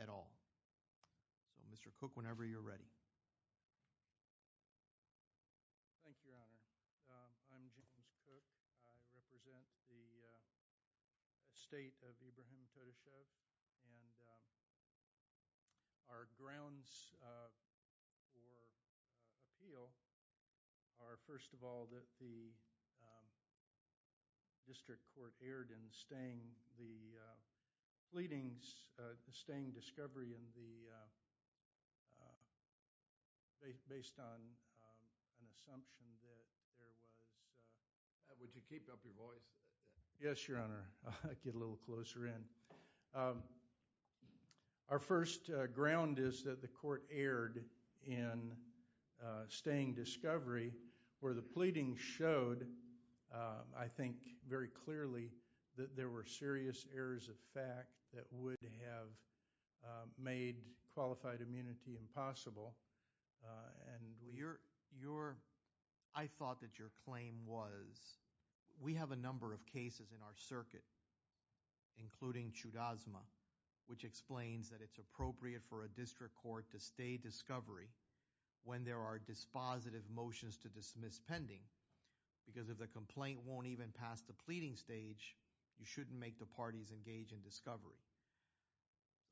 at all. So Mr. Cooke, whenever you're ready. Thank you, Your Honor. I'm James Cooke. I represent the estate of Ibragim Todashev and our grounds for appeal are first of all that the district court erred in staying the pleadings, the staying discovery in the, based on an assumption that there was, would you keep up your voice? Yes, Your Honor. I'll get a little closer in. Our first ground is that the court erred in staying discovery where the pleadings showed, I think, very clearly that there were serious errors of fact that would have made qualified immunity impossible. I thought that your claim was, we have a number of cases in our circuit, including Chudasma, which explains that it's appropriate for a because if the complaint won't even pass the pleading stage, you shouldn't make the parties engage in discovery.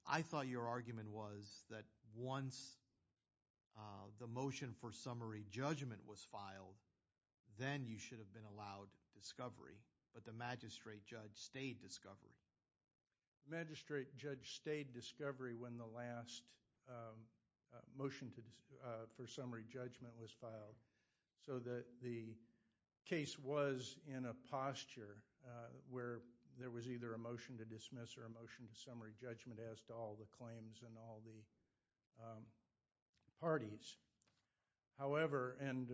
I thought your argument was that once the motion for summary judgment was filed, then you should have been allowed discovery, but the magistrate judge stayed discovery. The magistrate judge stayed discovery when the last motion for summary judgment was filed, so that the case was in a posture where there was either a motion to dismiss or a motion to summary judgment as to all the claims and all the parties. However, and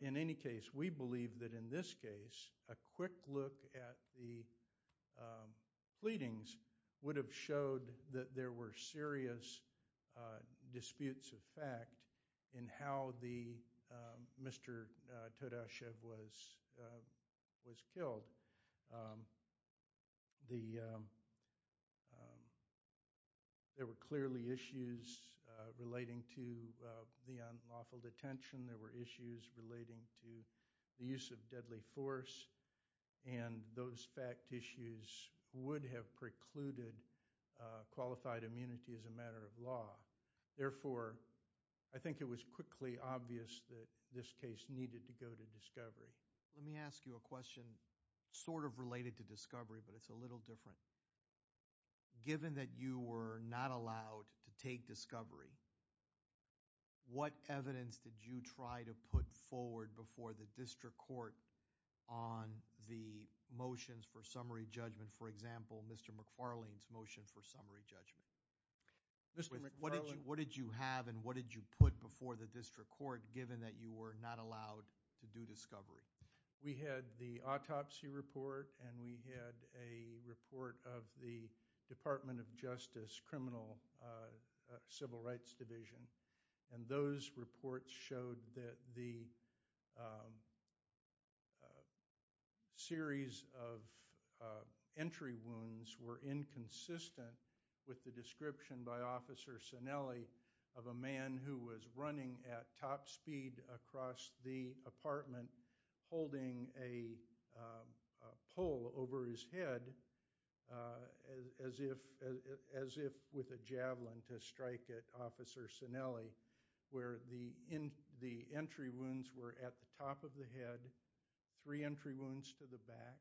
in any case, we believe that in this case, a quick look at the pleadings would have showed that there were serious disputes of fact in how the Mr. Todashev was killed. There were clearly issues relating to the unlawful detention. There were issues relating to the use of deadly force, and those fact issues would have precluded qualified immunity as a matter of law. Therefore, I think it was quickly obvious that this case needed to go to discovery. Let me ask you a question sort of related to discovery, but it's a little different. Given that you were not allowed to take discovery, what evidence did you try to put forward before the district court on the motions for summary judgment? For example, Mr. McFarlane's motion for summary judgment. Mr. McFarlane. What did you have and what did you put before the district court given that you were not allowed to do discovery? We had the autopsy report and we had a report of the Department of Justice Criminal Civil Rights Division, and those reports showed that the series of entry wounds were inconsistent with the description by Officer Sinelli, where the entry wounds were at the top of the head, three entry wounds to the back,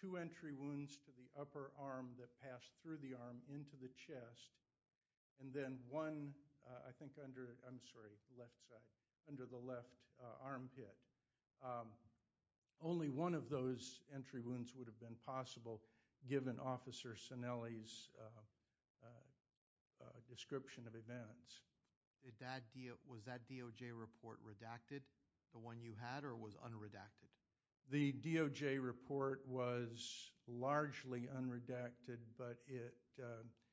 two entry wounds to the upper arm that passed through the arm into the chest, and then one under the left armpit. Only one of those entry wounds would have been possible given Officer Sinelli's description of events. Was that DOJ report redacted, the one you had, or was unredacted? The DOJ report was largely unredacted, but it...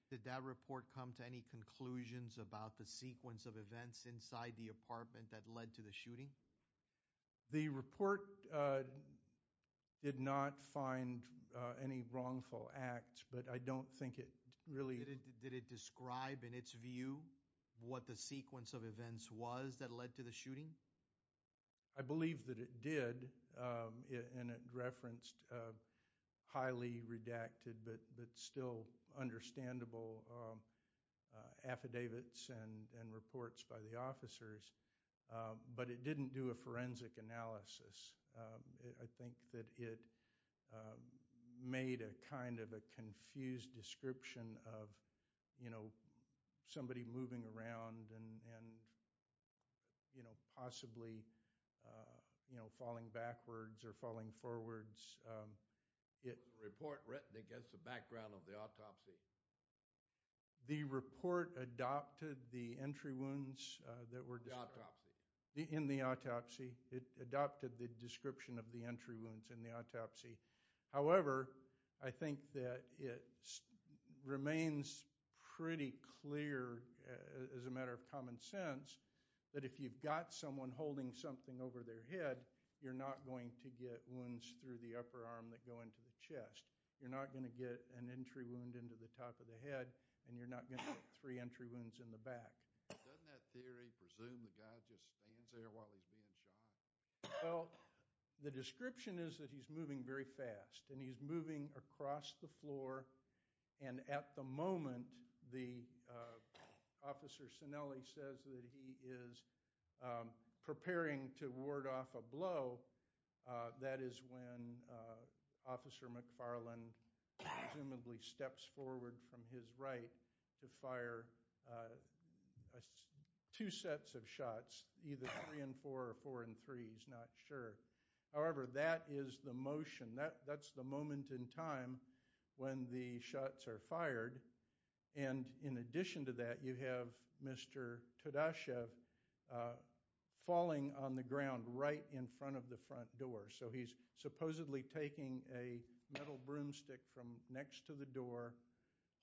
Did that report come to any conclusions about the sequence of events inside the apartment that led to the shooting? The report did not find any wrongful acts, but I don't think it really... Did it describe in its view what the sequence of events was, and it referenced highly redacted but still understandable affidavits and reports by the officers, but it didn't do a forensic analysis. I think that it made a kind of a confused description of somebody moving around and possibly falling backwards or falling forwards. Was the report written against the background of the autopsy? The report adopted the entry wounds that were... In the autopsy. In the autopsy. It adopted the description of the entry wounds in the autopsy. However, I think that it remains pretty clear as a matter of common sense that if you've got someone holding something over their head, you're not going to get wounds through the upper arm that go into the chest. You're not going to get an entry wound into the top of the head, and you're not going to get three entry wounds in the back. Doesn't that theory presume the guy just stands there while he's being shot? Well, the description is that he's moving very fast, and he's moving across the floor, and at the moment the officer Sinelli says that he is preparing to ward off a blow, that is when Officer McFarland presumably steps forward from his right to fire a two sets of shots, either three and four or four and three, he's not sure. However, that is the motion. That's the moment in time when the shots are fired, and in addition to that, you have Mr. Todashev falling on the ground right in front of the front door. So he's supposedly taking a metal broomstick from next to the door,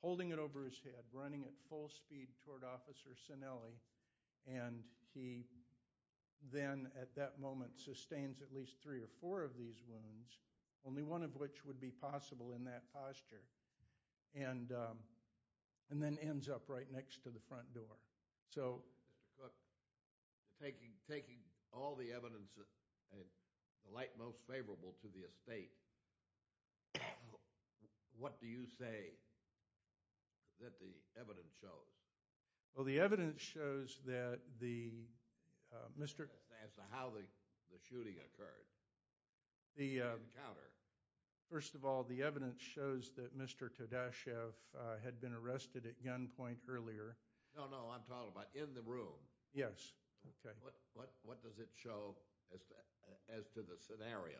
holding it over his head, running at full speed toward Officer Sinelli, and he then at that moment sustains at least three or four of these wounds, only one of which would be possible in that posture, and then ends up right next to the front door. Mr. Cook, taking all the evidence at the light most favorable to the estate, what do you say that the evidence shows? Well, the evidence shows that the, Mr. That's as to how the shooting occurred, the encounter. First of all, the evidence shows that Mr. Todashev had been arrested at gunpoint earlier. No, no, I'm talking about in the room. Yes, okay. What does it show as to the scenario?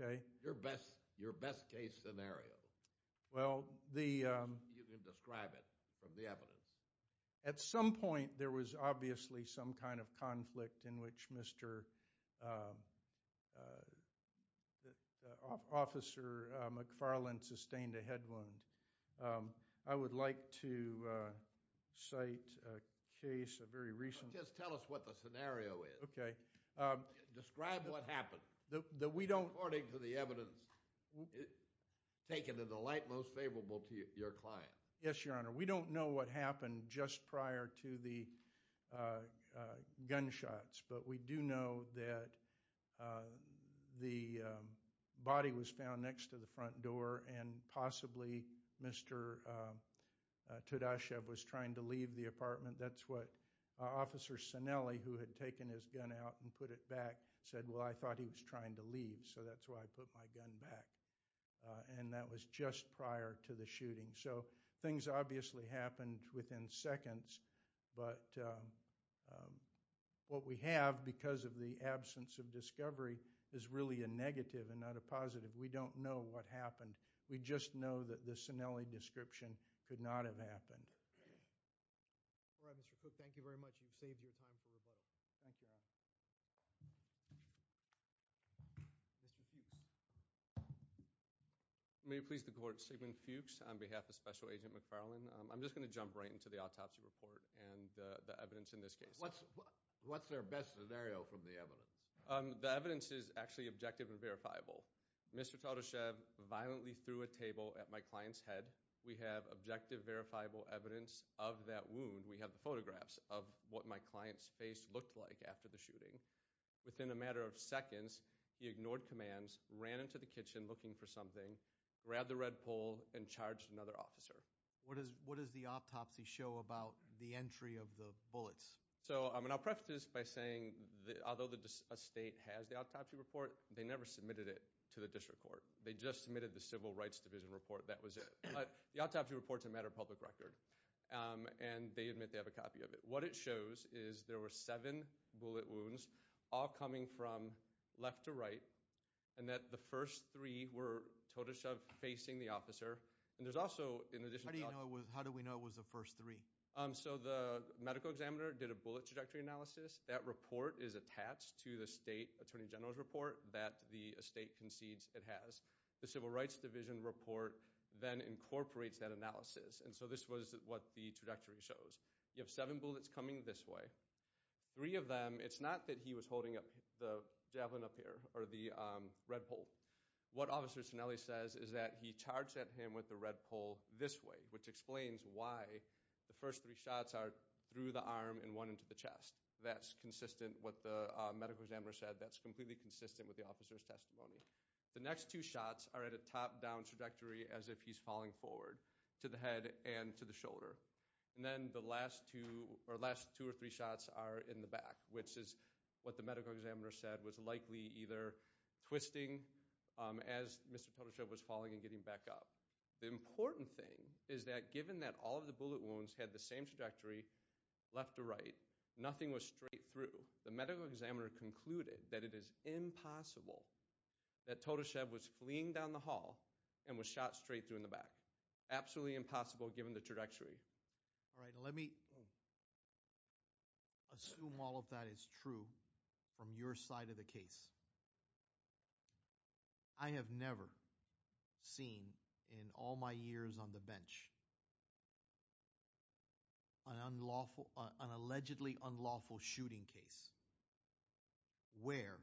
Okay. Your best case scenario. Well, the You can describe it from the evidence. At some point, there was obviously some kind of conflict in which Mr. Officer McFarland sustained a head wound. I would like to cite a case, a very recent Just tell us what the scenario is. Okay. Describe what happened. That we don't According to the evidence taken at the light most favorable to your client. Yes, Your Honor. We don't know what happened just prior to the gunshots, but we do know that the body was found next to the front door, and possibly Mr. Todashev was trying to leave the apartment. That's what Officer Cinelli, who had taken his gun out and put it back, said, well, I thought he was trying to leave, so that's why I put my gun back. And that was just prior to the shooting. So things obviously happened within seconds, but what we have because of the absence of discovery is really a negative and not a positive. We don't know what happened. We just know that the Cinelli description could not have happened. All right, Mr. Cook. Thank you very much. You've saved your time for rebuttal. Thank you, Your Honor. Mr. Fuchs. May it please the Court. Sigmund Fuchs on behalf of Special Agent McFarlane. I'm just going to jump right into the autopsy report and the evidence in this case. What's their best scenario from the evidence? The evidence is actually objective and verifiable. Mr. Todashev violently threw a table at my client's head. We have objective, verifiable evidence of that wound. We have the photographs of what my client's face looked like after the shooting. Within a matter of seconds, he ignored commands, ran into the kitchen looking for something, grabbed the red pole, and charged another officer. What does the autopsy show about the entry of the bullets? So I'll preface this by saying that although a state has the autopsy report, they never submitted it to the district court. They just submitted the Civil Rights Division report. That was it. But the autopsy report's a matter of public record, and they admit they have a copy of it. What it shows is there were seven bullet wounds, all coming from left to right, and that the first three were Todashev facing the officer. And there's also, in addition to... How do you know it was... How do we know it was the first three? So the medical examiner did a bullet trajectory analysis. That report is attached to the state attorney general's report that the estate concedes it has. The Civil Rights Division report then incorporates that analysis. And so this was what the trajectory shows. You have seven bullets coming this way. Three of them, it's not that he was holding up the javelin up here, or the red pole. What Officer Cinelli says is that he charged at him with the red pole this way, which explains why the first three shots are through the arm and one into the chest. That's consistent with what the medical examiner said. That's completely consistent with the officer's testimony. The next two shots are at a top-down trajectory, as if he's falling forward to the head and to the shoulder. And then the last two or three shots are in the back, which is what the medical examiner said was likely either twisting as Mr. Totoshev was falling and getting back up. The important thing is that given that all of the bullet wounds had the same trajectory, left to right, nothing was straight through, the medical examiner concluded that it is impossible that Totoshev was fleeing down the hall and was shot straight through in the back. Absolutely impossible given the trajectory. All right, let me assume all of that is true from your side of the case. I have never seen in all my years on the bench an unlawful, an allegedly unlawful shooting case where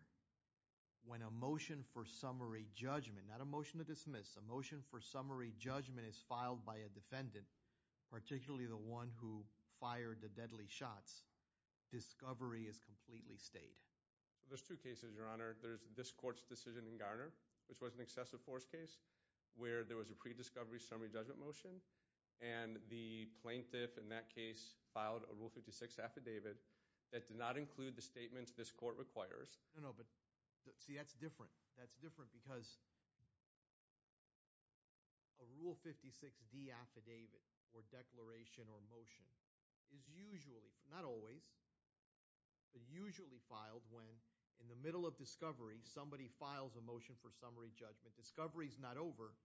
when a motion for summary judgment, not a motion to dismiss, a motion for summary judgment is filed by a defendant, particularly the one who fired the deadly shots, discovery is completely stayed. There's two cases, Your Honor. There's this court's decision in Garner, which was an excessive force case where there was a pre-discovery summary judgment motion and the plaintiff in that case filed a Rule 56 affidavit that did not include the statements this court requires. No, no, but see that's different. That's different because a Rule 56 D affidavit or declaration or motion is usually, not always, but usually filed when in the middle of discovery, somebody files a motion for summary judgment. Discovery is not over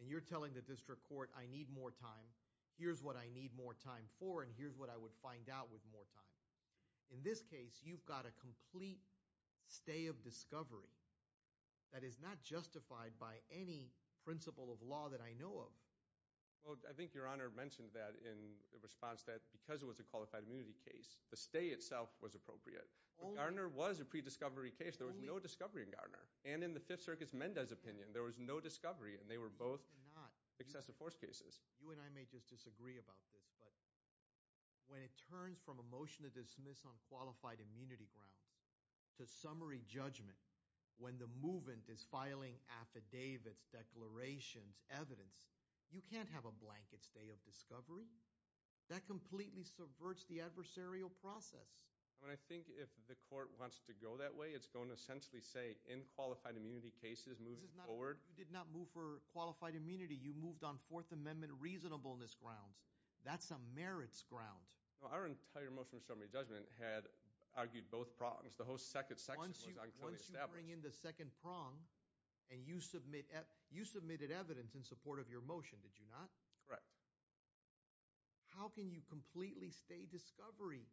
and you're telling the district court, I need more time. Here's what I need more time for and here's what I would find out with more time. In this case, you've got a complete stay of discovery that is not justified by any principle of law that I know of. Well, I think Your Honor mentioned that in response that because it was a qualified immunity case, the stay itself was appropriate. Garner was a pre-discovery case. There was no discovery in Garner. And in the Fifth Circuit's Mendez opinion, there was no discovery and they were both excessive force cases. You and I may just disagree about this, but when it turns from a motion to dismiss on qualified immunity grounds to summary judgment, when the movement is filing affidavits, declarations, evidence, you can't have a blanket stay of discovery. That completely subverts the adversarial process. I mean, I think if the court wants to go that way, it's going to essentially say in qualified immunity cases moving forward. You did not move for qualified immunity. You moved on Fourth Amendment reasonableness grounds. That's a merits ground. Well, our entire motion to summary judgment had argued both prongs. The whole second section was unclearly established. Once you bring in the second prong and you submit, you submitted evidence in support of your motion, did you not? Correct. How can you completely stay discovery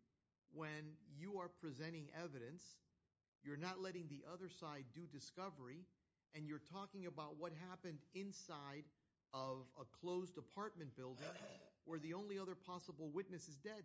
when you are presenting evidence, you're not letting the other side do discovery, and you're talking about what happened inside of a closed apartment building where the only other possible witness is dead?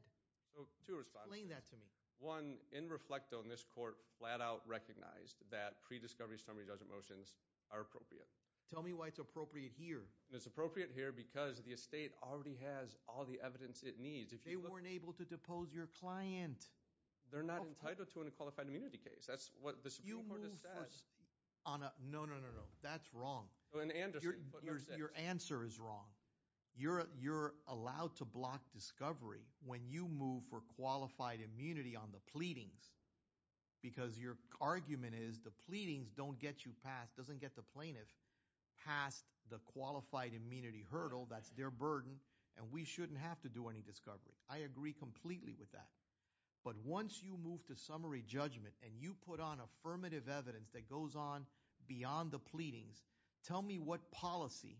Two responses. Explain that to me. One, in reflect on this court flat out recognized that pre-discovery summary judgment motions are appropriate. Tell me why it's appropriate here. It's appropriate here because the estate already has all the evidence it needs. They weren't able to depose your client. They're not entitled to a qualified immunity case. That's what the Supreme Court has said. No, no, no, that's wrong. Your answer is wrong. You're allowed to block discovery when you move for qualified immunity on the pleadings. Because your argument is the pleadings don't get you past, doesn't get the plaintiff past the qualified immunity hurdle. That's their burden and we shouldn't have to do any discovery. I agree completely with that. But once you move to summary judgment and you put on affirmative evidence that goes on beyond the pleadings, tell me what policy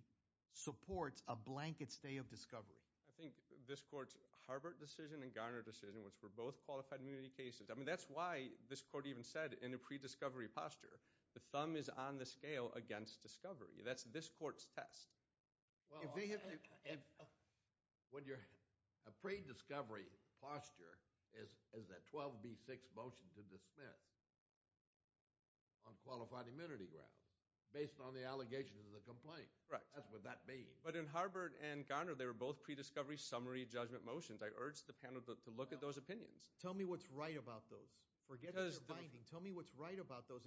supports a blanket stay of discovery. I think this court's Harbert decision and Garner decision, which were both qualified immunity cases. I mean, that's why this court even said in a pre-discovery posture, the thumb is on the scale against discovery. That's this court's test. When you're a pre-discovery posture is that 12B6 motion to dismiss. On qualified immunity grounds, based on the allegations of the complaint. Correct. That's what that means. But in Harbert and Garner, they were both pre-discovery summary judgment motions. I urge the panel to look at those opinions. Tell me what's right about those. Forget their binding. Tell me what's right about those.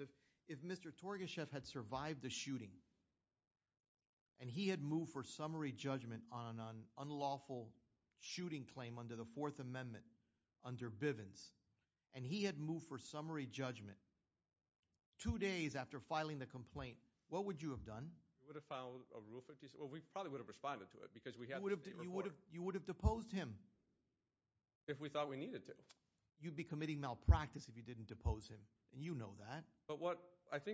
If Mr. Torgashev had survived the shooting and he had moved for summary judgment on an unlawful shooting claim under the Fourth Amendment, under Bivens, and he had moved for summary judgment two days after filing the complaint, what would you have done? We would have filed a Rule 56. Well, we probably would have responded to it because we had this day before. You would have deposed him. If we thought we needed to. You'd be committing malpractice if you didn't depose him. And you know that.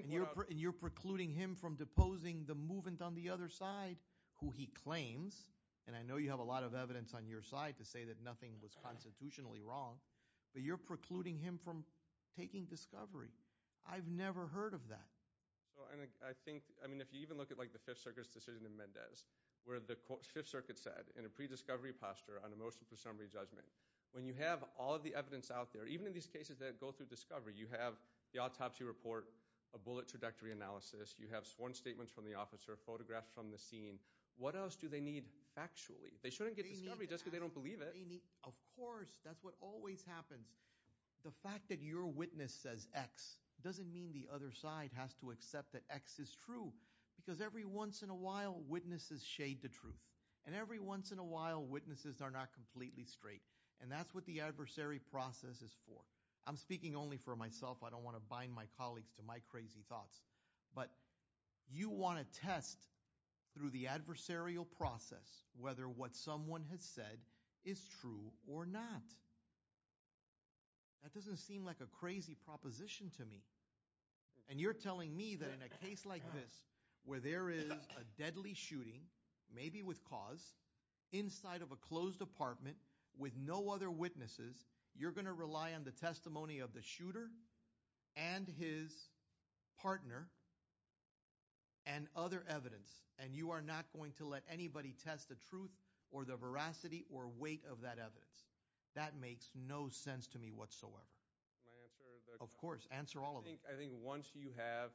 And you're precluding him from deposing the movement on the other side who he claims. And I know you have a lot of evidence on your side to say that nothing was constitutionally wrong. But you're precluding him from taking discovery. I've never heard of that. So I think, I mean, if you even look at like the Fifth Circuit's decision in Mendez, where the Fifth Circuit said in a pre-discovery posture on a motion for summary judgment, when you have all the evidence out there, even in these cases that go through discovery, you have the autopsy report, a bullet trajectory analysis, you have sworn statements from the officer, photographs from the scene. What else do they need factually? They shouldn't get discovery just because they don't believe it. Of course, that's what always happens. The fact that your witness says X doesn't mean the other side has to accept that X is true. Because every once in a while, witnesses shade the truth. And every once in a while, witnesses are not completely straight. And that's what the adversary process is for. I'm speaking only for myself. I don't want to bind my colleagues to my crazy thoughts. But you want to test through the adversarial process whether what someone has said is true or not. That doesn't seem like a crazy proposition to me. And you're telling me that in a case like this, where there is a deadly shooting, maybe with cause, inside of a closed apartment with no other witnesses, you're going to rely on the testimony of the shooter and his partner and other evidence. And you are not going to let anybody test the truth or the veracity or weight of that evidence. That makes no sense to me whatsoever. Of course, answer all of them. I think once you have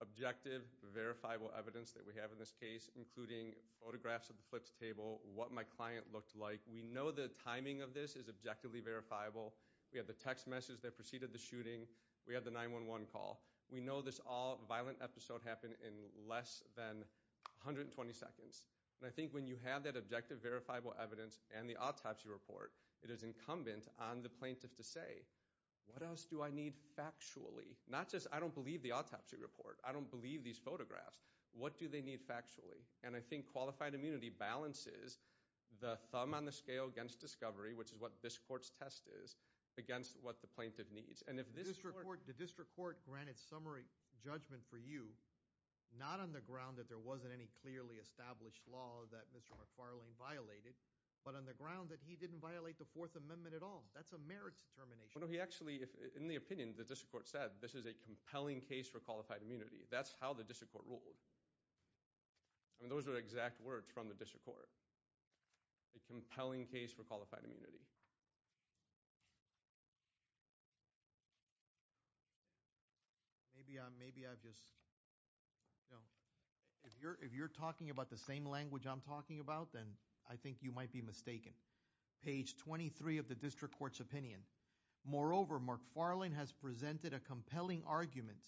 objective, verifiable evidence that we have in this case, including photographs of the flipped table, what my client looked like, we know the timing of this is objectively verifiable. We have the text message that preceded the shooting. We have the 911 call. We know this all-violent episode happened in less than 120 seconds. And I think when you have that objective, verifiable evidence and the autopsy report, it is incumbent on the plaintiff to say, what else do I need factually? Not just, I don't believe the autopsy report. I don't believe these photographs. What do they need factually? And I think qualified immunity balances the thumb on the scale against discovery, which is what this court's test is, against what the plaintiff needs. The district court granted summary judgment for you, not on the ground that there wasn't any clearly established law that Mr. McFarlane violated, but on the ground that he didn't violate the Fourth Amendment at all. That's a merit determination. No, he actually, in the opinion, the district court said, this is a compelling case for qualified immunity. That's how the district court ruled. I mean, those are exact words from the district court. A compelling case for qualified immunity. Maybe I've just, if you're talking about the same language I'm talking about, then I think you might be mistaken. Page 23 of the district court's opinion. Moreover, Mark Farlane has presented a compelling argument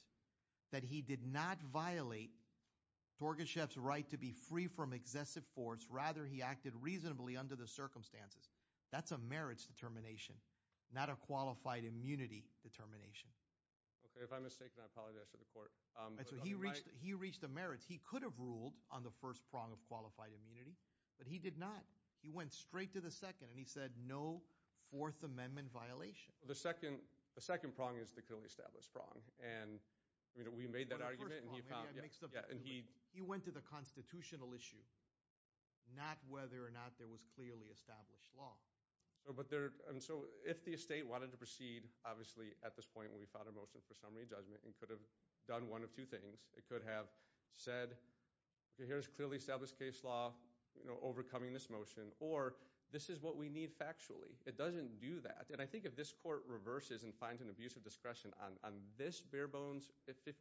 that he did not violate Torgachev's right to be free from excessive force. Rather, he acted reasonably under the circumstances. That's a merits determination, not a qualified immunity. Determination. Okay, if I'm mistaken, I apologize to the court. He reached the merits. He could have ruled on the first prong of qualified immunity, but he did not. He went straight to the second, and he said no Fourth Amendment violation. The second prong is the clearly established prong, and we made that argument. He went to the constitutional issue, not whether or not there was clearly established law. But there, and so if the estate wanted to proceed, obviously, at this point, we found a motion for summary judgment and could have done one of two things. It could have said, here's clearly established case law, you know, overcoming this motion, or this is what we need factually. It doesn't do that. And I think if this court reverses and finds an abuse of discretion on this bare bones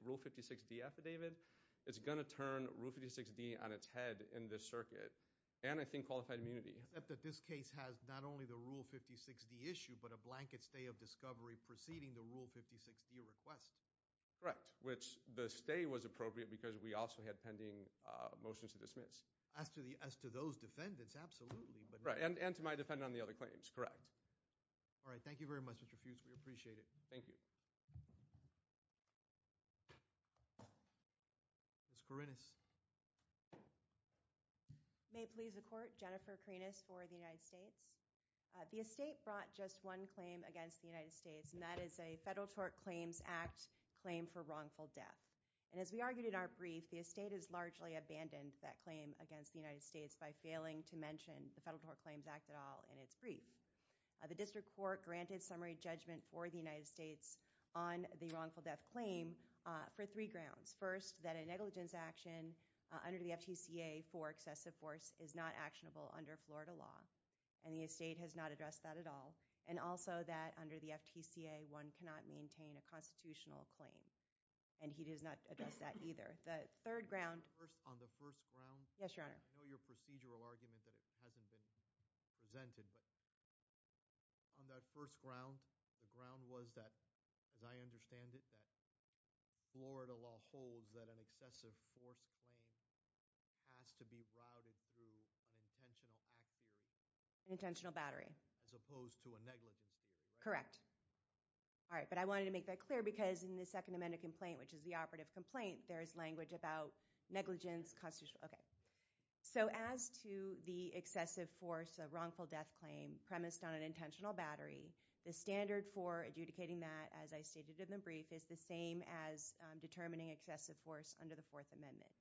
Rule 56D affidavit, it's going to turn Rule 56D on its head in this circuit, and I think qualified immunity. Except that this case has not only the Rule 56D issue, but a blanket stay of discovery preceding the Rule 56D request. Correct, which the stay was appropriate because we also had pending motions to dismiss. As to those defendants, absolutely. Right, and to my defendant on the other claims, correct. All right, thank you very much, Mr. Fuchs. We appreciate it. Thank you. Ms. Karinas. May it please the court, Jennifer Karinas for the United States. The estate brought just one claim against the United States, and that is a Federal Tort Claims Act claim for wrongful death. And as we argued in our brief, the estate has largely abandoned that claim against the United States by failing to mention the Federal Tort Claims Act at all in its brief. The district court granted summary judgment for the United States on the wrongful death claim for three grounds. First, that a negligence action under the FTCA for excessive force is not actionable under Florida law. And the estate has not addressed that at all. And also that under the FTCA, one cannot maintain a constitutional claim. And he does not address that either. The third ground. First, on the first ground. Yes, Your Honor. I know your procedural argument that it hasn't been presented, but on that first ground, the ground was that, as I understand it, Florida law holds that an excessive force claim has to be routed through an intentional act theory. An intentional battery. As opposed to a negligence theory. Correct. All right. But I wanted to make that clear because in the Second Amendment complaint, which is the operative complaint, there is language about negligence constitutional. Okay. So as to the excessive force of wrongful death claim premised on an intentional battery, the standard for adjudicating that, as I stated in the brief, is the same as determining excessive force under the Fourth Amendment.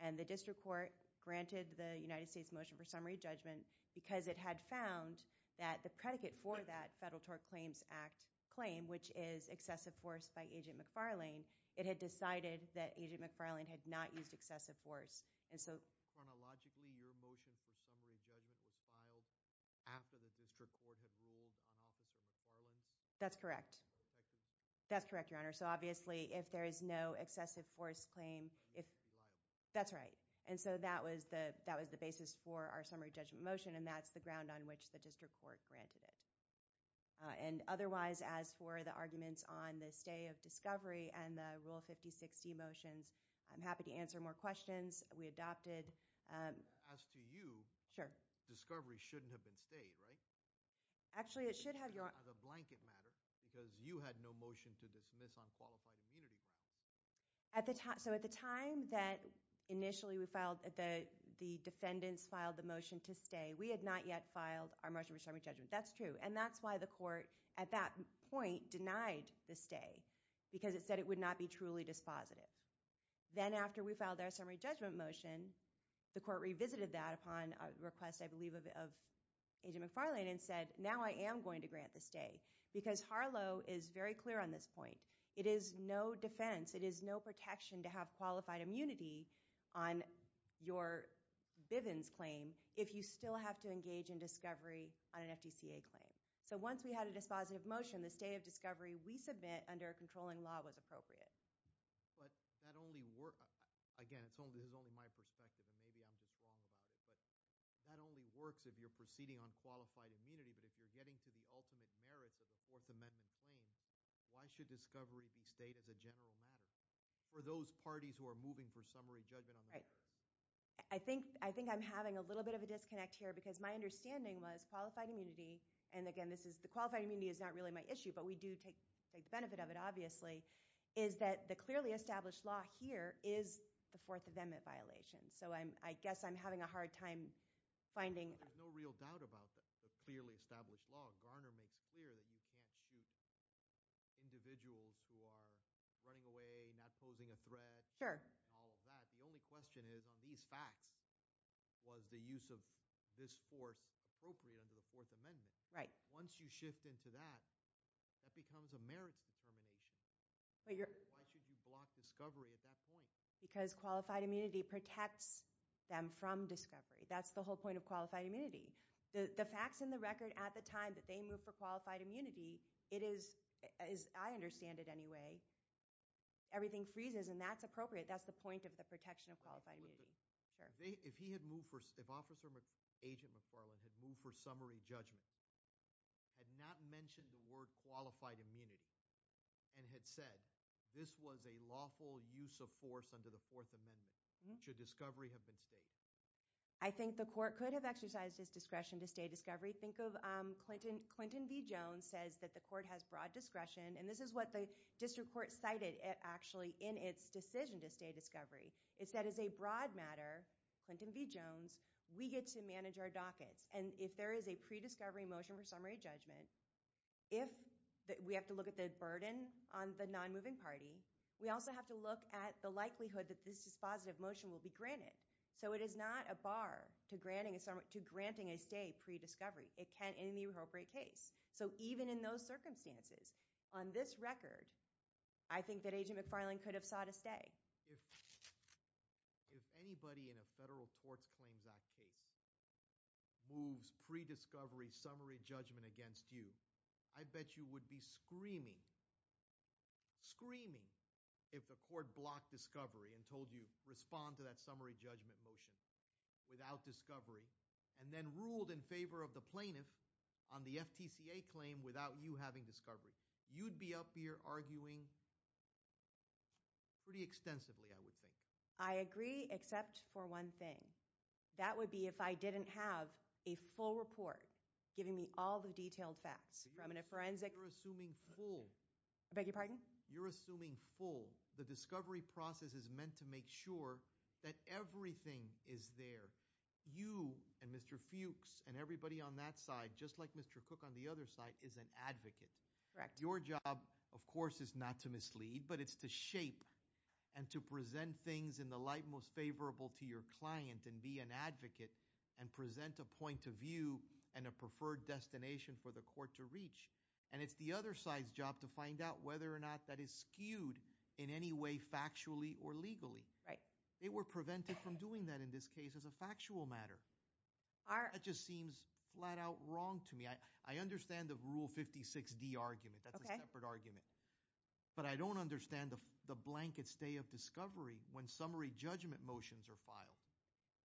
And the district court granted the United States motion for summary judgment because it had found that the predicate for that Federal Tort Claims Act claim, which is excessive force by Agent McFarlane, it had decided that Agent McFarlane had not used excessive force. And so chronologically, your motion for summary judgment was filed after the district court had ruled on Officer McFarlane's? That's correct. That's correct, your honor. So obviously, if there is no excessive force claim, if... That's right. And so that was the basis for our summary judgment motion. And that's the ground on which the district court granted it. And otherwise, as for the arguments on the stay of discovery and the Rule 5060 motions, I'm happy to answer more questions. We adopted... As to you... Sure. Discovery shouldn't have been stayed, right? Actually, it should have... As a blanket matter, because you had no motion to dismiss on qualified immunity grounds. So at the time that initially we filed, the defendants filed the motion to stay, we had not yet filed our motion for summary judgment. That's true. And that's why the court at that point denied the stay, because it said it would not be truly dispositive. Then after we filed our summary judgment motion, the court revisited that upon a request, I believe, of Agent McFarlane and said, now I am going to grant the stay. Because Harlow is very clear on this point. It is no defense. It is no protection to have qualified immunity on your Bivens claim if you still have to engage in discovery on an FDCA claim. So once we had a dispositive motion, the stay of discovery we submit under a controlling law was appropriate. But that only works... Again, this is only my perspective, and maybe I'm just wrong about it, but that only works if you're proceeding on qualified immunity. But if you're getting to the ultimate merits of a Fourth Amendment claim, why should discovery be stayed as a general matter for those parties who are moving for summary judgment on that? Right. I think I'm having a little bit of a disconnect here, because my understanding was qualified immunity, and again, the qualified immunity is not really my issue, but we do take the benefit of it, obviously, is that the clearly established law here is the Fourth Amendment violation. So I guess I'm having a hard time finding... There's no real doubt about the clearly established law. Garner makes clear that you can't shoot individuals who are running away, not posing a threat, and all of that. The only question is, on these facts, was the use of this force appropriate under the Fourth Amendment? Right. Once you shift into that, that becomes a merits determination. Why should you block discovery at that point? Because qualified immunity protects them from discovery. That's the whole point of qualified immunity. The facts in the record at the time that they moved for qualified immunity, it is, as I understand it anyway, everything freezes, and that's appropriate. That's the point of the protection of qualified immunity. If he had moved for... If Officer... Agent McFarland had moved for summary judgment, had not mentioned the word qualified immunity, and had said, this was a lawful use of force under the Fourth Amendment, should discovery have been stated? I think the court could have exercised its discretion to stay discovery. Think of Clinton v. Jones says that the court has broad discretion, and this is what the district court cited actually in its decision to stay discovery. It said, as a broad matter, Clinton v. Jones, we get to manage our dockets. And if there is a pre-discovery motion for summary judgment, if we have to look at the burden on the non-moving party, we also have to look at the likelihood that this dispositive motion will be granted. So it is not a bar to granting a summary... To granting a stay pre-discovery. It can in the appropriate case. So even in those circumstances, on this record, I think that Agent McFarland could have sought a stay. If anybody in a Federal Tort Claims Act case moves pre-discovery summary judgment against you, I bet you would be screaming, screaming if the court blocked discovery and told you respond to that summary judgment motion without discovery, and then ruled in favor of the plaintiff on the FTCA claim without you having discovery. You'd be up here arguing pretty extensively, I would think. I agree, except for one thing. That would be if I didn't have a full report giving me all the detailed facts from a forensic... You're assuming full. I beg your pardon? You're assuming full. The discovery process is meant to make sure that everything is there. You and Mr. Fuchs and everybody on that side, just like Mr. Cook on the other side, is an advocate. Correct. Your job, of course, is not to mislead, but it's to shape and to present things in the light most favorable to your client and be an advocate and present a point of view and a preferred destination for the court to reach. And it's the other side's job to find out whether or not that is skewed in any way factually or legally. Right. They were prevented from doing that in this case as a factual matter. That just seems flat out wrong to me. I understand the Rule 56D argument. That's a separate argument. But I don't understand the blanket stay of discovery when summary judgment motions are filed.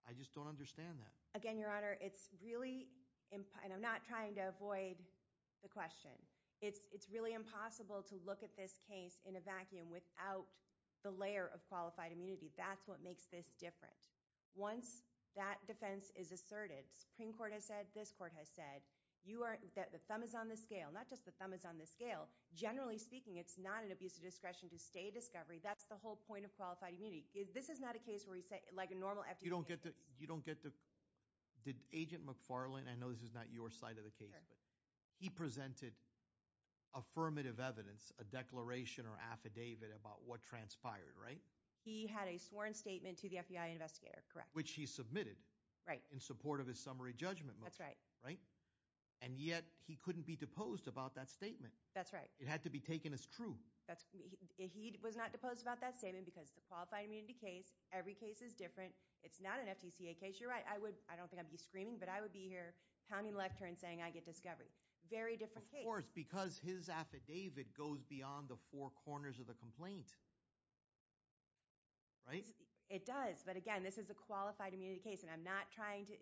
I just don't understand that. Again, Your Honor, it's really— and I'm not trying to avoid the question. It's really impossible to look at this case in a vacuum without the layer of qualified immunity. That's what makes this different. Once that defense is asserted, Supreme Court has said, this court has said, the thumb is on the scale. Not just the thumb is on the scale. Generally speaking, it's not an abuse of discretion to stay discovery. That's the whole point of qualified immunity. This is not a case where you say— You don't get to— Did Agent McFarlane— I know this is not your side of the case, but he presented affirmative evidence, a declaration or affidavit about what transpired, right? He had a sworn statement to the FBI investigator, correct. Which he submitted. Right. In support of his summary judgment motion. That's right. Right? And yet he couldn't be deposed about that statement. That's right. It had to be taken as true. He was not deposed about that statement because it's a qualified immunity case. Every case is different. It's not an FTCA case. You're right, I would— I don't think I'd be screaming, but I would be here pounding the left turn saying, I get discovery. Very different case. Of course, because his affidavit goes beyond the four corners of the complaint. Right? It does. But again, this is a qualified immunity case. And I'm not trying to—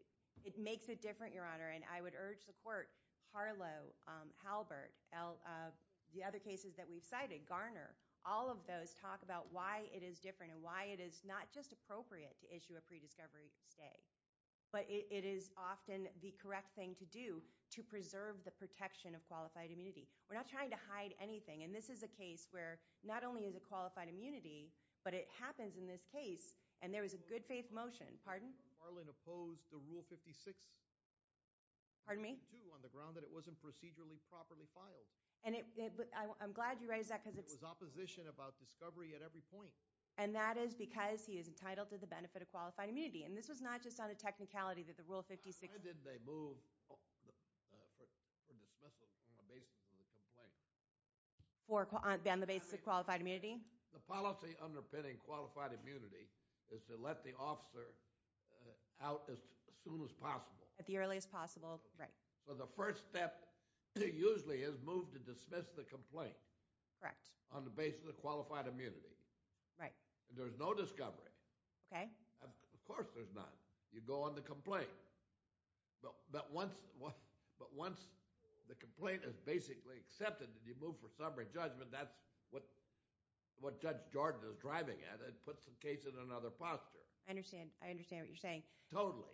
It makes it different, Your Honor. And I would urge the court, Harlow, Halbert, the other cases that we've cited, Garner, all of those talk about why it is different and why it is not just appropriate to issue a pre-discovery stay. But it is often the correct thing to do to preserve the protection of qualified immunity. We're not trying to hide anything. And this is a case where not only is it qualified immunity, but it happens in this case. And there was a good faith motion— Pardon? Marlin opposed the Rule 56— Pardon me? —2 on the ground that it wasn't procedurally properly filed. And I'm glad you raised that because— It was opposition about discovery at every point. And that is because he is entitled to the benefit of qualified immunity. And this was not just on a technicality that the Rule 56— Why did they move for dismissal on the basis of a complaint? On the basis of qualified immunity? The policy underpinning qualified immunity is to let the officer out as soon as possible. At the earliest possible— Right. So the first step usually is move to dismiss the complaint— Correct. —on the basis of qualified immunity. Right. And there's no discovery. Okay. Of course there's none. You go on the complaint. But once the complaint is basically accepted and you move for summary judgment, that's what Judge Jordan is driving at. It puts the case in another posture. I understand. I understand what you're saying. Totally.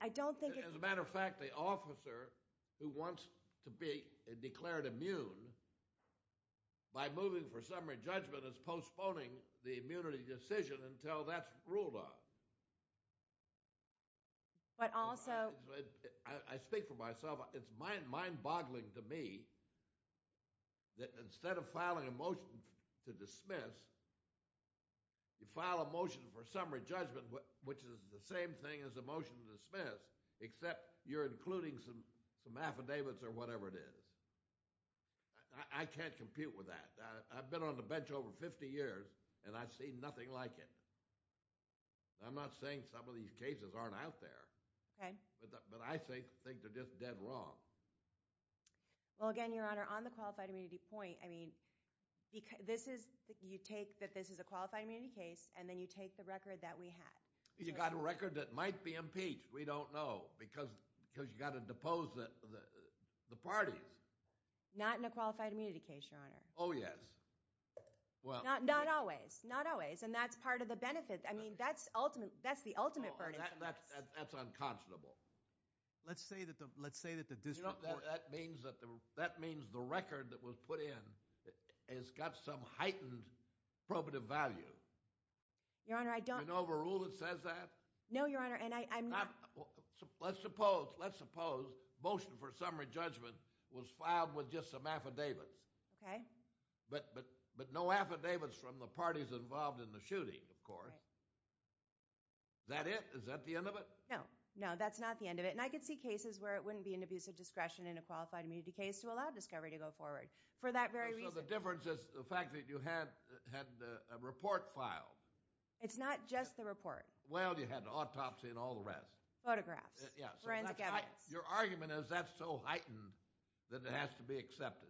I don't think— As a matter of fact, the officer who wants to be declared immune by moving for summary judgment is postponing the immunity decision until that's ruled on. But also— I speak for myself. It's mind-boggling to me that instead of filing a motion to dismiss, you file a motion for summary judgment, which is the same thing as a motion to dismiss, except you're including some affidavits or whatever it is. I can't compute with that. I've been on the bench over 50 years and I've seen nothing like it. I'm not saying some of these cases aren't out there. Okay. But I think they're just dead wrong. Well, again, Your Honor, on the qualified immunity point, I mean, this is—you take that this is a qualified immunity case, and then you take the record that we had. You got a record that might be impeached. We don't know because you got to depose the parties. Not in a qualified immunity case, Your Honor. Oh, yes. Well— Not always. Not always. And that's part of the benefit. I mean, that's ultimate. That's the ultimate burden. And that's unconscionable. Let's say that the— Let's say that the dismissal— That means that the record that was put in has got some heightened probative value. Your Honor, I don't— You know the rule that says that? No, Your Honor, and I'm not— Let's suppose— Let's suppose that you filed with just some affidavits. Okay. But no affidavits from the parties involved in the shooting, of course. Is that it? Is that the end of it? No. No, that's not the end of it. And I could see cases where it wouldn't be an abusive discretion in a qualified immunity case to allow discovery to go forward for that very reason. So the difference is the fact that you had a report filed. It's not just the report. Well, you had an autopsy and all the rest. Photographs. Yeah. Forensic evidence. Your argument is that's so heightened that it has to be accepted.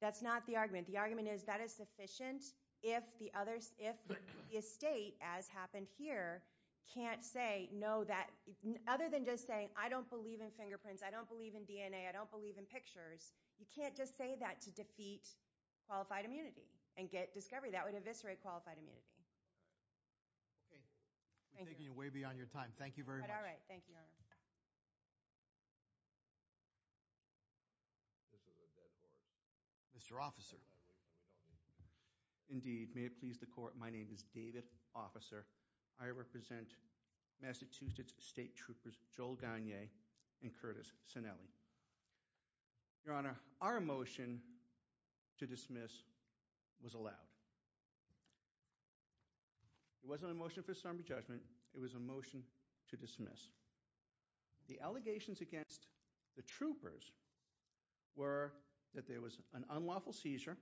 That's not the argument. The argument is that is sufficient if the state, as happened here, can't say, no, that—other than just saying, I don't believe in fingerprints. I don't believe in DNA. I don't believe in pictures. You can't just say that to defeat qualified immunity and get discovery. That would eviscerate qualified immunity. Okay. Thank you. Thank you very much. All right. Thank you, Your Honor. This is a dead board. Mr. Officer. Indeed. May it please the court. My name is David Officer. I represent Massachusetts State Troopers Joel Gagne and Curtis Sinelli. Your Honor, our motion to dismiss was allowed. It was a motion to dismiss. The allegations against the troopers were that there was an unlawful seizure,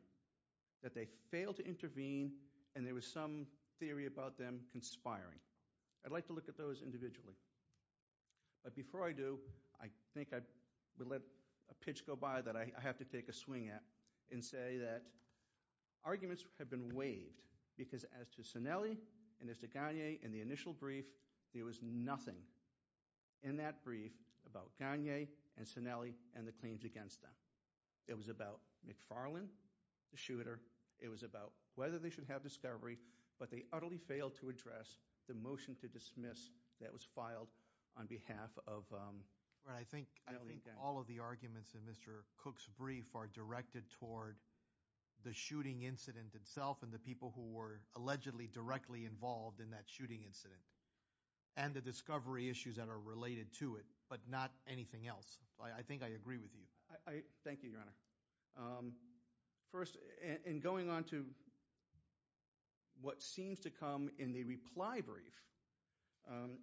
that they failed to intervene, and there was some theory about them conspiring. I'd like to look at those individually. But before I do, I think I would let a pitch go by that I have to take a swing at and say that arguments have been waived because as to Sinelli and as to Gagne and the initial brief, there was nothing in that brief about Gagne and Sinelli and the claims against them. It was about McFarland, the shooter. It was about whether they should have discovery, but they utterly failed to address the motion to dismiss that was filed on behalf of Gagne. I think all of the arguments in Mr. Cook's brief are directed toward the shooting incident itself and the people who were allegedly directly involved in that shooting incident and the discovery issues that are related to it, but not anything else. I think I agree with you. Thank you, Your Honor. First, in going on to what seems to come in the reply brief,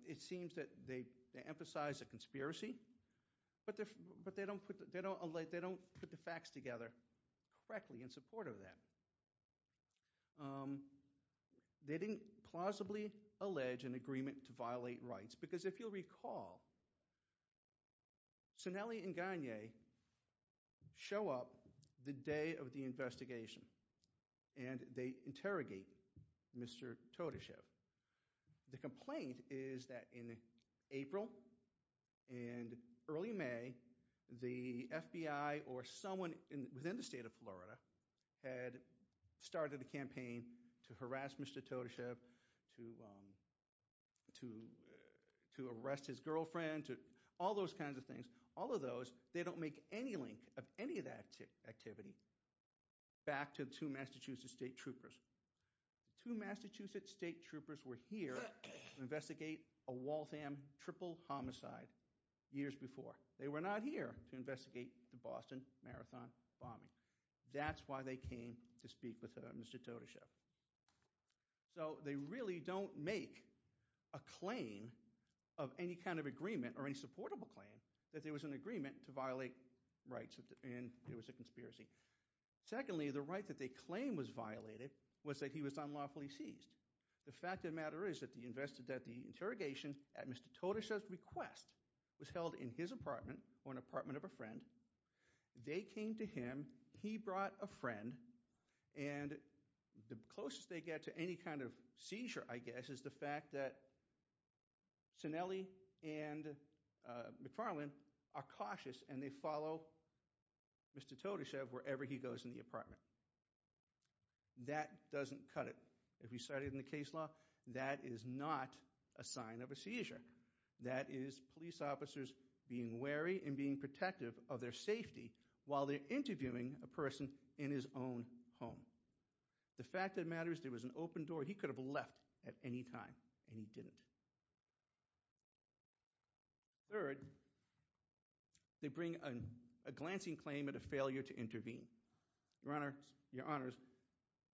it seems that they emphasize a conspiracy, but they don't put the facts together correctly in support of that. They didn't plausibly allege an agreement to violate rights because if you'll recall, Sinelli and Gagne show up the day of the investigation and they interrogate Mr. Todeshev. The complaint is that in April and early May, the FBI or someone within the state of Florida had started a campaign to harass Mr. Todeshev, to arrest his girlfriend, to all those kinds of things. All of those, they don't make any link of any of that activity back to two Massachusetts state troopers. Two Massachusetts state troopers were here to investigate a Waltham triple homicide years before. They were not here to investigate the Boston Marathon bombing. That's why they came to speak with Mr. Todeshev. So they really don't make a claim of any kind of agreement or any supportable claim that there was an agreement to violate rights and it was a conspiracy. Secondly, the right that they claim was violated was that he was unlawfully seized. The fact of the matter is that the interrogation at Mr. Todeshev's request was held in his apartment or an apartment of a friend. They came to him. He brought a friend and the closest they get to any kind of seizure, I guess, is the fact that Cinelli and McFarland are cautious and they follow Mr. Todeshev wherever he goes in the apartment. That doesn't cut it. If you studied in the case law, that is not a sign of a seizure. That is police officers being wary and being protective of their safety while they're interviewing a person in his own home. The fact of the matter is there was an open door. He could have left at any time and he didn't. Third, they bring a glancing claim at a failure to intervene. Your Honors,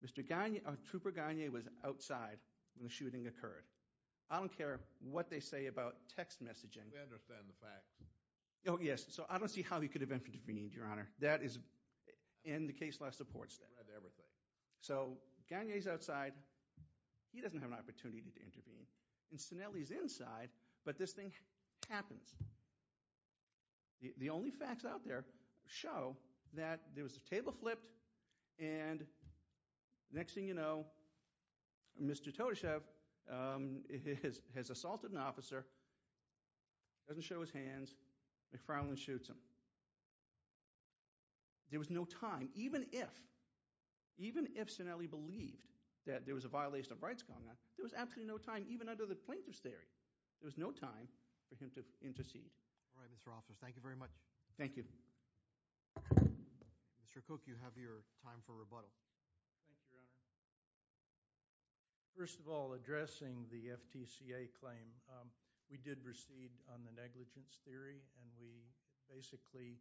Mr. Gagne, Trooper Gagne was outside when the shooting occurred. I don't care what they say about text messaging. We understand the facts. Oh, yes. So I don't see how he could have intervened, Your Honor. That is in the case law supports that. We've read everything. So Gagne's outside. He doesn't have an opportunity to intervene. And Cinelli's inside. But this thing happens. The only facts out there show that there was a table flipped and next thing you know, Mr. Todeshev has assaulted an officer, doesn't show his hands, McFarlane shoots him. There was no time, even if Cinelli believed that there was a violation of rights going on, there was absolutely no time, even under the plaintiff's theory. There was no time for him to intercede. All right, Mr. Officer. Thank you very much. Thank you. Mr. Cook, you have your time for rebuttal. Thank you, Your Honor. First of all, addressing the FTCA claim, we did recede on the negligence theory and we basically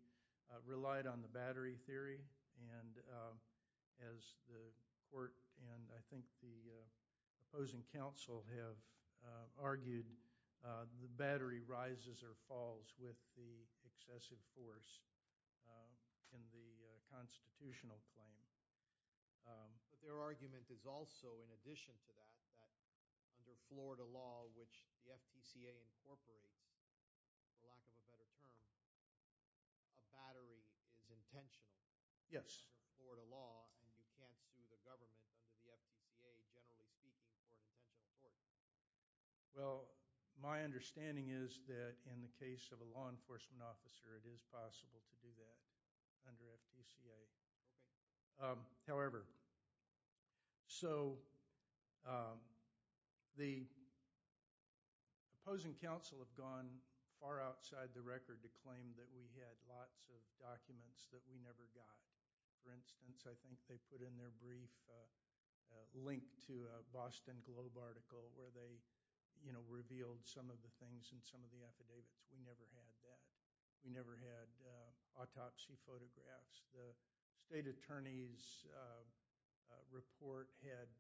relied on the battery theory. And as the court and I think the opposing counsel have argued, the battery rises or falls with the excessive force in the constitutional claim. But their argument is also, in addition to that, that under Florida law, which the FTCA incorporates, for lack of a better term, a battery is intentional. Yes. Under Florida law and you can't sue the government under the FTCA, generally speaking, for an intentional force. Well, my understanding is that in the case of a law enforcement officer, it is possible to do that under FTCA. Okay. However, so the opposing counsel have gone far outside the record to claim that we had lots of documents that we never got. For instance, I think they put in their brief a link to a Boston Globe article where they revealed some of the things in some of the affidavits. We never had that. We never had autopsy photographs. The state attorney's report had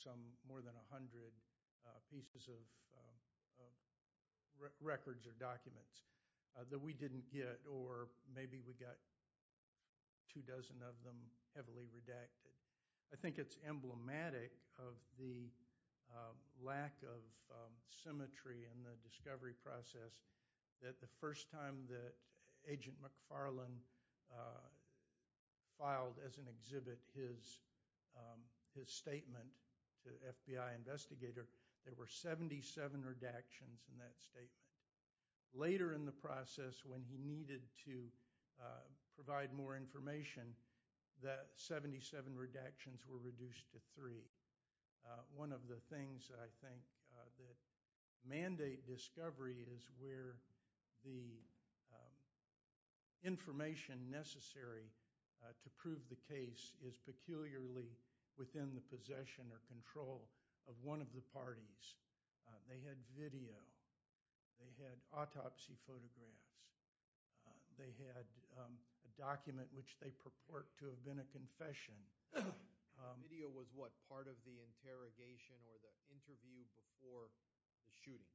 some more than 100 pieces of records or documents that we didn't get or maybe we got two dozen of them heavily redacted. I think it's emblematic of the lack of symmetry in the discovery process that the first time that Agent McFarlane filed as an exhibit his statement to the FBI investigator, there were 77 redactions in that statement. Later in the process when he needed to provide more information, that 77 redactions were reduced to three. One of the things I think that mandate discovery is where the information necessary to prove the case is peculiarly within the possession or control of one of the parties. They had video. They had autopsy photographs. They had a document which they purport to have been a confession. The video was what? Part of the interrogation or the interview before the shooting?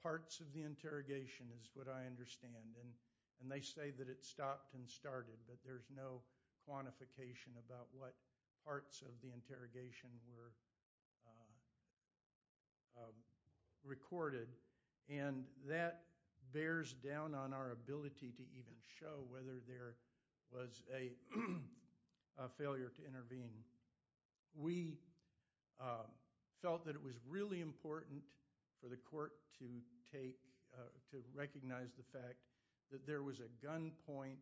Parts of the interrogation is what I understand. They say that it stopped and started, but there's no quantification about what parts of the interrogation were recorded. That bears down on our ability to even show whether there was a failure to intervene. We felt that it was really important for the court to recognize the fact that there was a gunpoint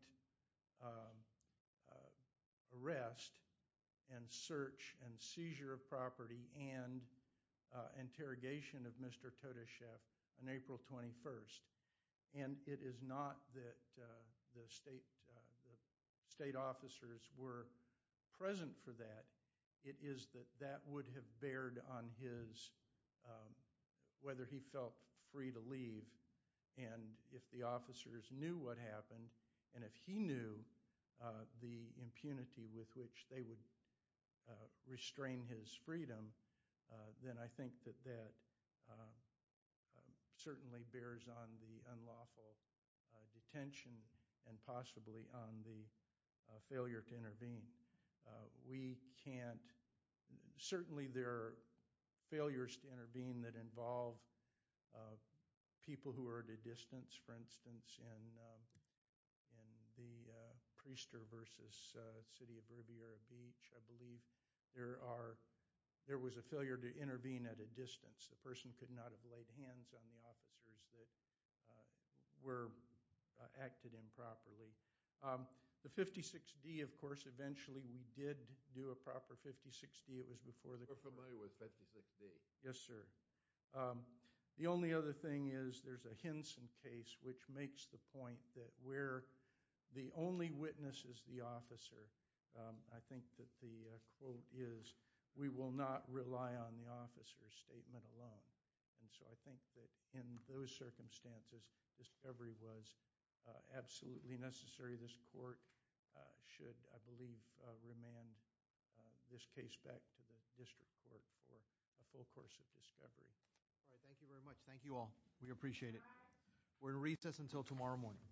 arrest and search and seizure of property and interrogation of Mr. Todeshev on April 21st, and it is not that the state officers were present for that. It is that that would have bared on his whether he felt free to leave, and if the officers knew what happened, and if he knew the impunity with which they would restrain his freedom, then I think that that certainly bears on the unlawful detention and possibly on the failure to intervene. Certainly, there are failures to intervene that involve people who are at a distance, for instance, in the Priester v. City of Riviera Beach. I believe there was a failure to intervene at a distance. The person could not have laid hands on the officers that were acted improperly. The 56D, of course, eventually we did do a proper 56D. It was before the… You're familiar with 56D? Yes, sir. The only other thing is there's a Henson case which makes the point that where the only witness is the officer, I think that the quote is, we will not rely on the officer's statement alone, and so I think that in those circumstances, discovery was absolutely necessary. This court should, I believe, remand this case back to the district court for a full course of discovery. All right. Thank you very much. Thank you all. We appreciate it. We're in recess until tomorrow morning.